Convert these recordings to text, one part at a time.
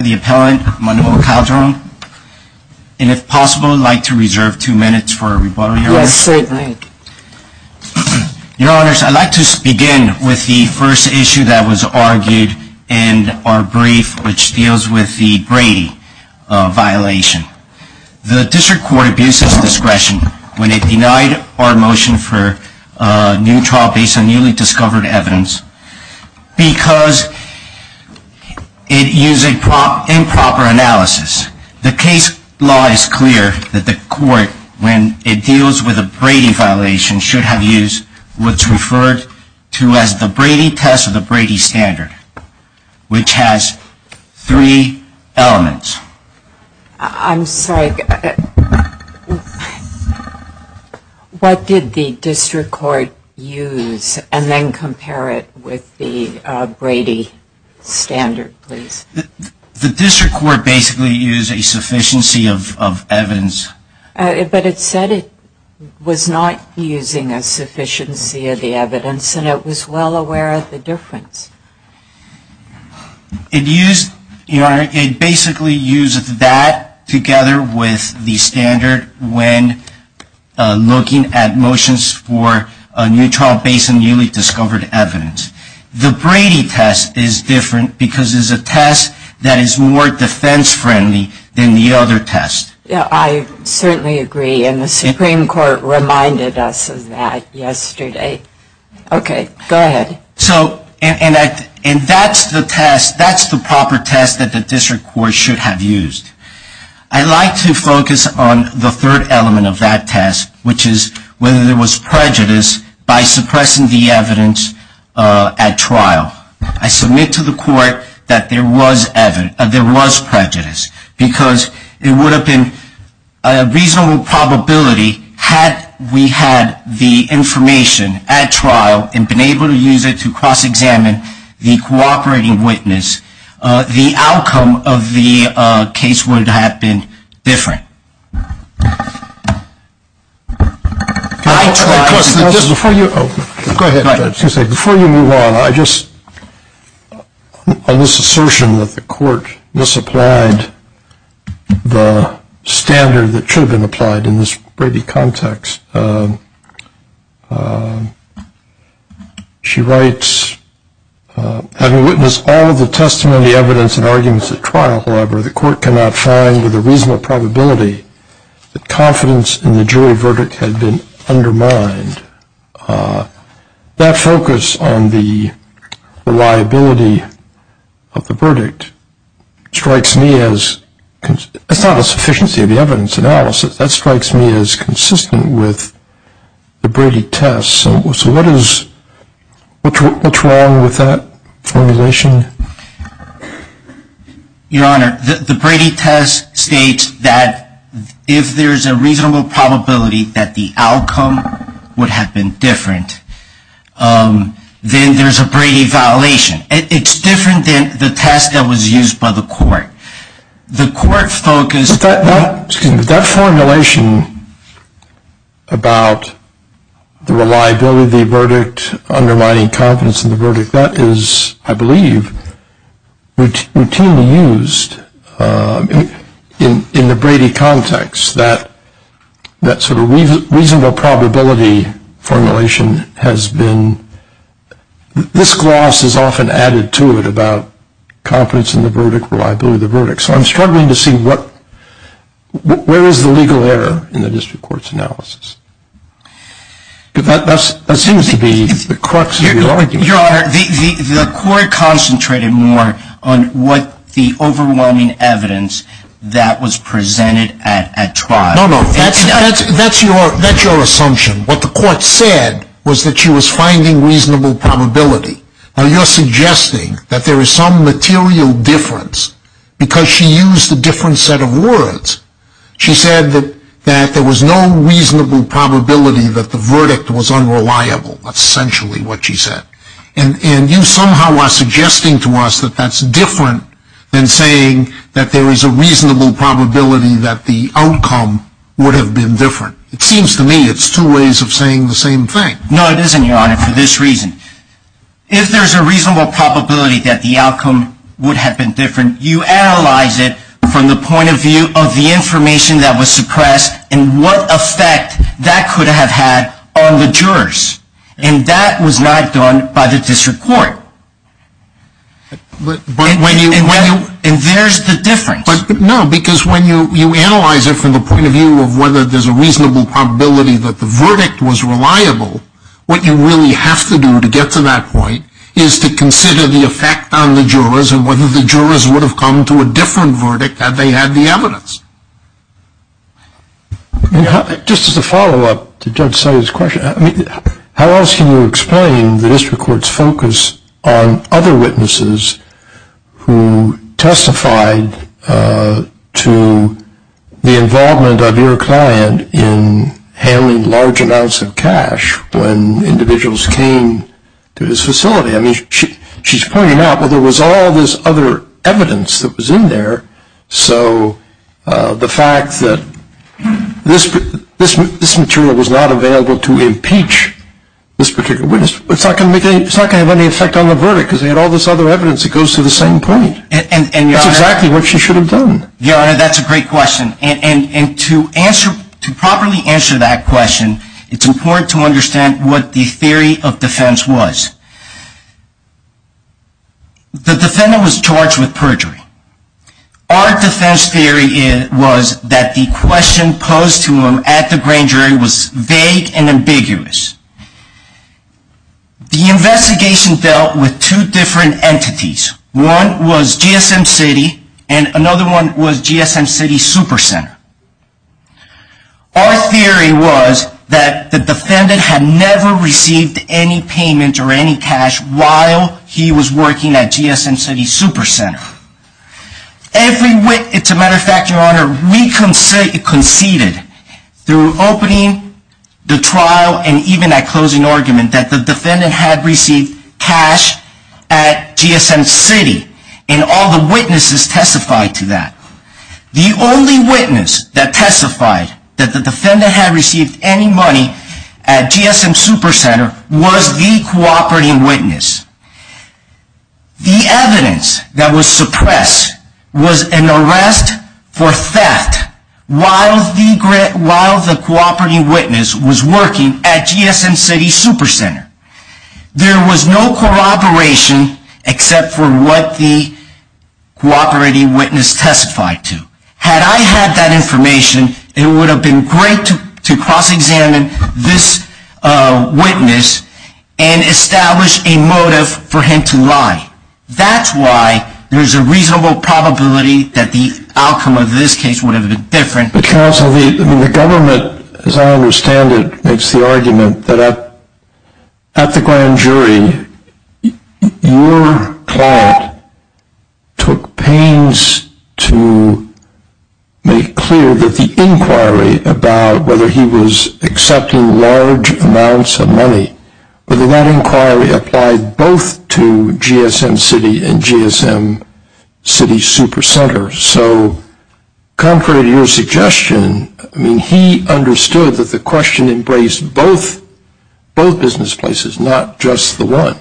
and if possible, I'd like to reserve two minutes for a rebuttal here. Yes, certainly. Your Honors, I'd like to begin with the first issue that was argued in our brief, which deals with the Brady violation. The District Court abused its discretion when it denied our motion for a new trial based on newly discovered evidence because it used improper analysis. The case law is clear that the court, when it deals with a Brady violation, should have used what's referred to as the Brady test or the Brady standard, which has three elements. I'm sorry. What did the District Court use and then compare it with the Brady standard, please? The District Court basically used a sufficiency of evidence. But it said it was not using a sufficiency of the evidence and it was well aware of the difference. It used, Your Honor, it basically used that together with the standard when looking at motions for a new trial based on newly discovered evidence. The Brady test is different because it's a test that is more defense friendly than the other test. I certainly agree and the Supreme Court reminded us of that yesterday. Okay, go ahead. And that's the test, that's the proper test that the District Court should have used. I'd like to focus on the third element of that test, which is whether there was prejudice by suppressing the evidence at trial. I submit to the court that there was prejudice because it would have been a reasonable probability, had we had the information at trial and been able to use it to cross-examine the cooperating witness, the outcome of the case would have been different. Before you move on, I just, on this assertion that the court misapplied the standard that should have been applied in this Brady context, she writes, having witnessed all of the testimony, evidence, and arguments at trial, however, the court cannot find with a reasonable probability that confidence in the jury verdict had been undermined. That focus on the reliability of the verdict strikes me as, it's not a sufficiency of the evidence analysis, that strikes me as consistent with the Brady test. So what is, what's wrong with that formulation? Your Honor, the Brady test states that if there's a reasonable probability that the outcome would have been different, then there's a Brady violation. It's different than the test that was used by the court. The court focused... But that formulation about the reliability of the verdict undermining confidence in the verdict, that is, I believe, routinely used in the Brady context. That sort of reasonable probability formulation has been, this gloss is often added to it about confidence in the verdict, reliability of the verdict. So I'm struggling to see what, where is the legal error in the district court's analysis? Because that seems to be the crux of the argument. Your Honor, the court concentrated more on what the overwhelming evidence that was presented at trial... No, no, that's your assumption. What the court said was that she was finding reasonable probability. Now you're suggesting that there is some material difference because she used a different set of words. She said that there was no reasonable probability that the verdict was unreliable. That's essentially what she said. And you somehow are suggesting to us that that's different than saying that there is a reasonable probability that the outcome would have been different. It seems to me it's two ways of saying the same thing. No, it isn't, Your Honor, for this reason. If there's a reasonable probability that the outcome would have been different, you analyze it from the point of view of the information that was suppressed and what effect that could have had on the jurors. And that was not done by the district court. And there's the difference. No, because when you analyze it from the point of view of whether there's a reasonable probability that the verdict was reliable, what you really have to do to get to that point is to consider the effect on the jurors and whether the jurors would have come to a different verdict had they had the evidence. Just as a follow-up to Judge Salyer's question, how else can you explain the district court's focus on other witnesses who testified to the involvement of your client in handling large amounts of cash when individuals came to his facility? I mean, she's pointing out, well, there was all this other evidence that was in there, so the fact that this material was not available to impeach this particular witness, it's not going to have any effect on the verdict because they had all this other evidence that goes to the same point. That's exactly what she should have done. Your Honor, that's a great question. And to properly answer that question, it's important to understand what the theory of defense was. The defendant was charged with perjury. Our defense theory was that the question posed to him at the grand jury was vague and ambiguous. The investigation dealt with two different entities. One was GSM City and another one was GSM City Supercenter. Our theory was that the defendant had never received any payment or any cash while he was working at GSM City Supercenter. To a matter of fact, Your Honor, we conceded through opening the trial and even at closing argument that the defendant had received cash at GSM City and all the witnesses testified to that. The only witness that testified that the defendant had received any money at GSM Supercenter was the cooperating witness. The evidence that was suppressed was an arrest for theft while the cooperating witness was working at GSM City Supercenter. There was no corroboration except for what the cooperating witness testified to. Had I had that information, it would have been great to cross-examine this witness and establish a motive for him to lie. That's why there's a reasonable probability that the outcome of this case would have been different. Counsel, the government, as I understand it, makes the argument that at the grand jury, your client took pains to make clear that the inquiry about whether he was accepting large amounts of money, whether that inquiry applied both to GSM City and GSM City Supercenter. So contrary to your suggestion, he understood that the question embraced both business places, not just the one.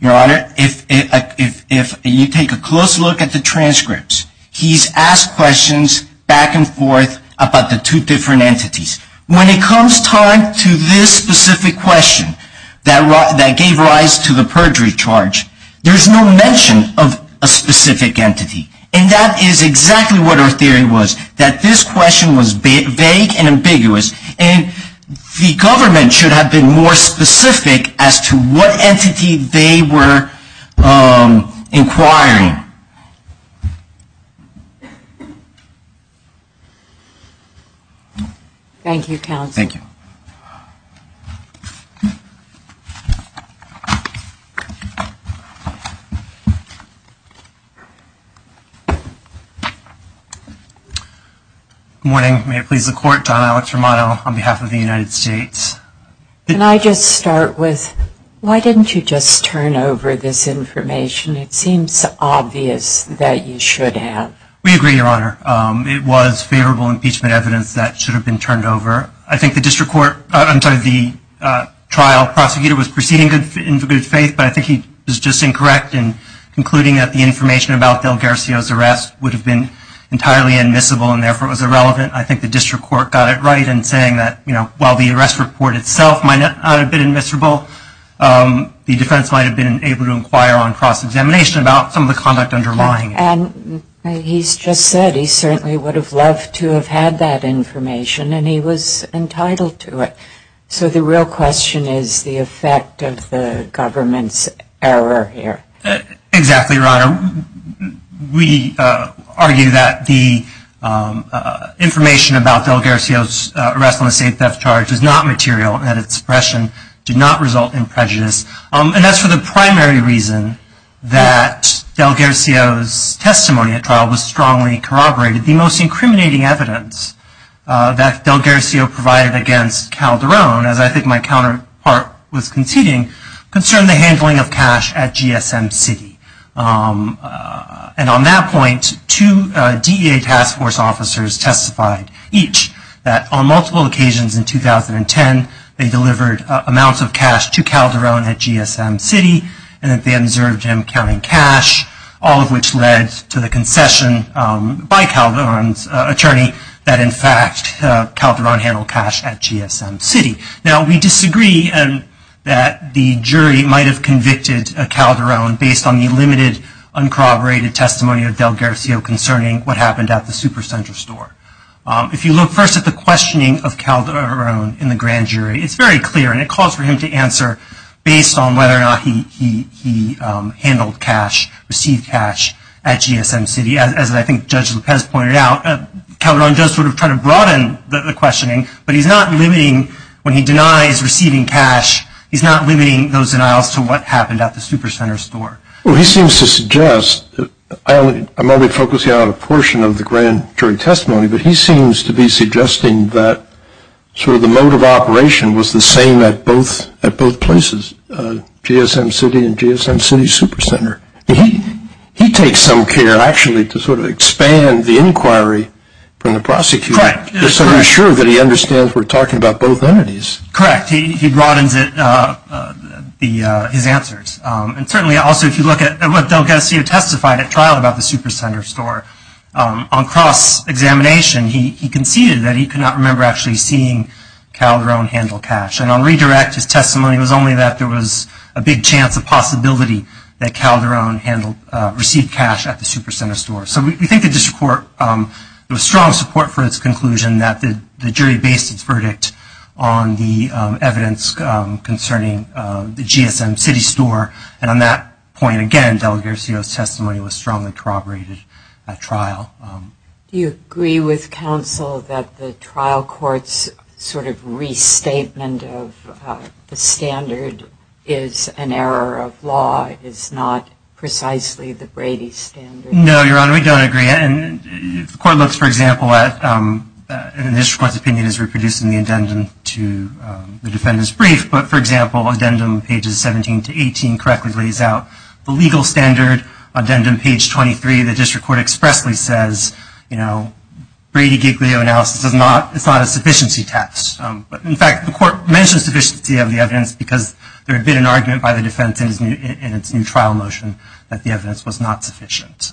Your Honor, if you take a close look at the transcripts, he's asked questions back and forth about the two different entities. When it comes time to this specific question that gave rise to the perjury charge, there's no mention of a specific entity. And that is exactly what our theory was, that this question was vague and ambiguous, and the government should have been more specific as to what entity they were inquiring. Thank you, Counsel. Thank you. Good morning. May it please the Court, John Alex Romano on behalf of the United States. Can I just start with, why didn't you just turn over this information? It seems obvious that you should have. We agree, Your Honor. It was favorable impeachment evidence that should have been turned over. I think the trial prosecutor was proceeding in good faith, but I think he was just incorrect in concluding that the information about DelGarcia's arrest would have been entirely admissible and therefore it was irrelevant. I think the district court got it right in saying that while the arrest report itself might not have been admissible, the defense might have been able to inquire on cross-examination about some of the conduct underlying it. And he's just said he certainly would have loved to have had that information, and he was entitled to it. So the real question is the effect of the government's error here. Exactly, Your Honor. We argue that the information about DelGarcia's arrest on a state theft charge is not material And that's for the primary reason that DelGarcia's testimony at trial was strongly corroborated. The most incriminating evidence that DelGarcia provided against Calderon, as I think my counterpart was conceding, concerned the handling of cash at GSM City. And on that point, two DEA task force officers testified each that on multiple occasions in 2010, they delivered amounts of cash to Calderon at GSM City and that they observed him counting cash, all of which led to the concession by Calderon's attorney that in fact Calderon handled cash at GSM City. Now we disagree that the jury might have convicted Calderon based on the limited, uncorroborated testimony of DelGarcia concerning what happened at the Supercenter store. If you look first at the questioning of Calderon in the grand jury, it's very clear, and it calls for him to answer based on whether or not he handled cash, received cash at GSM City. As I think Judge Lopez pointed out, Calderon does sort of try to broaden the questioning, but he's not limiting when he denies receiving cash, he's not limiting those denials to what happened at the Supercenter store. Well, he seems to suggest, I'm only focusing on a portion of the grand jury testimony, but he seems to be suggesting that sort of the mode of operation was the same at both places, GSM City and GSM City Supercenter. He takes some care actually to sort of expand the inquiry from the prosecutor. Correct. So he's sure that he understands we're talking about both entities. Correct. He broadens his answers. And certainly also if you look at what DelGarcia testified at trial about the Supercenter store, on cross-examination he conceded that he could not remember actually seeing Calderon handle cash. And on redirect, his testimony was only that there was a big chance of possibility that Calderon received cash at the Supercenter store. So we think the district court, there was strong support for its conclusion that the jury based its verdict on the evidence concerning the GSM City store. And on that point, again, DelGarcia's testimony was strongly corroborated at trial. Do you agree with counsel that the trial court's sort of restatement of the standard is an error of law, is not precisely the Brady standard? No, Your Honor, we don't agree. The court looks, for example, at the district court's opinion as reproducing the addendum to the defendant's brief. But, for example, addendum pages 17 to 18 correctly lays out the legal standard. Addendum page 23, the district court expressly says, you know, Brady-Giglio analysis is not a sufficiency test. In fact, the court mentions sufficiency of the evidence because there had been an argument by the defense in its new trial motion that the evidence was not sufficient.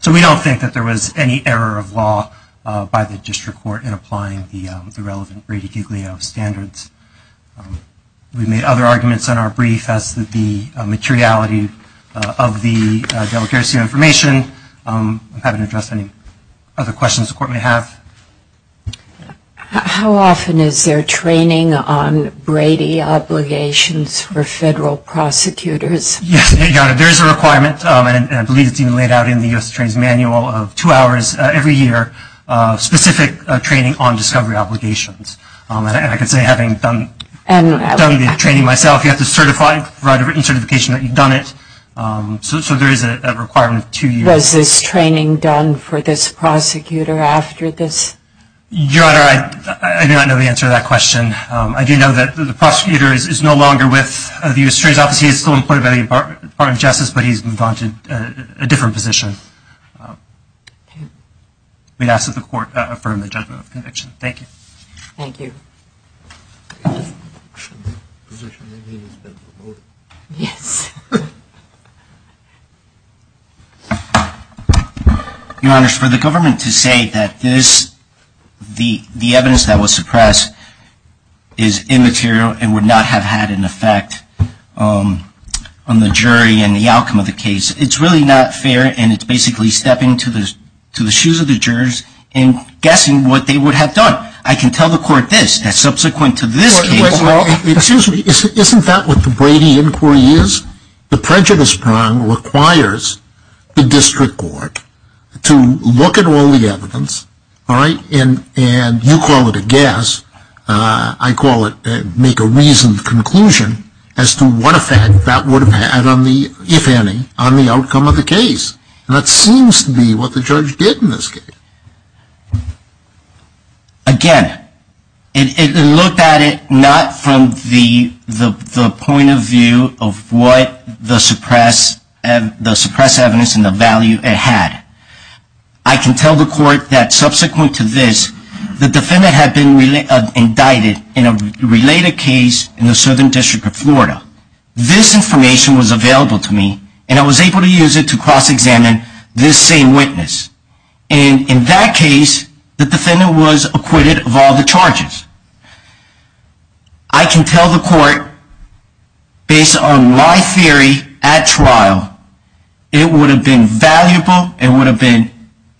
So we don't think that there was any error of law by the district court in applying the relevant Brady-Giglio standards. We made other arguments in our brief as to the materiality of the DelGarcia information. I haven't addressed any other questions the court may have. How often is there training on Brady obligations for federal prosecutors? Yes, Your Honor, there is a requirement, and I believe it's even laid out in the U.S. Attorney's Manual, of two hours every year of specific training on discovery obligations. And I can say, having done the training myself, you have to certify, write a written certification that you've done it. So there is a requirement of two years. Was this training done for this prosecutor after this? Your Honor, I do not know the answer to that question. I do know that the prosecutor is no longer with the U.S. Attorney's Office. He is still employed by the Department of Justice, but he's moved on to a different position. We ask that the court affirm the judgment of conviction. Thank you. Thank you. Yes. Your Honor, for the government to say that this, the evidence that was suppressed, is immaterial and would not have had an effect on the jury and the outcome of the case, it's really not fair, and it's basically stepping to the shoes of the jurors and guessing what they would have done. I can tell the court this, that subsequent to this case. Excuse me, isn't that what the Brady inquiry is? The prejudice prong requires the district court to look at all the evidence, all right, and you call it a guess. I call it make a reasoned conclusion as to what effect that would have had on the, if any, on the outcome of the case. And that seems to be what the judge did in this case. Again, it looked at it not from the point of view of what the suppressed evidence and the value it had. I can tell the court that subsequent to this, the defendant had been indicted in a related case in the Southern District of Florida. This information was available to me, and I was able to use it to cross-examine this same witness. And in that case, the defendant was acquitted of all the charges. I can tell the court, based on my theory at trial, it would have been valuable, it would have been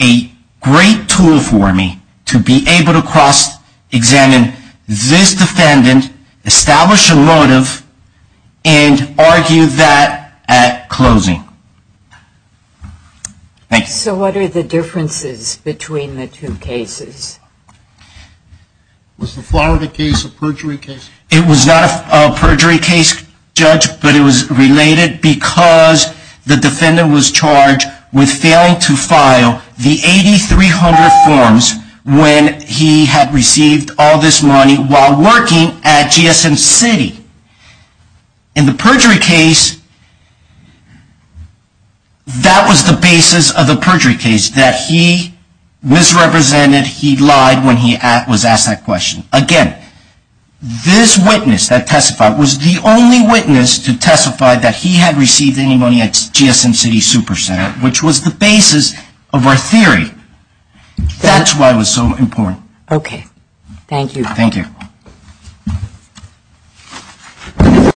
a great tool for me to be able to cross-examine this defendant, establish a motive, and argue that at closing. So what are the differences between the two cases? Was the Florida case a perjury case? It was not a perjury case, Judge, but it was related because the defendant was charged with failing to file the 8300 forms when he had received all this money while working at GSM City. In the perjury case, that was the basis of the perjury case, that he misrepresented, he lied when he was asked that question. Again, this witness that testified was the only witness to testify that he had received any money at GSM City Supercenter, which was the basis of our theory. That's why it was so important. Okay. Thank you. Thank you. Thank you.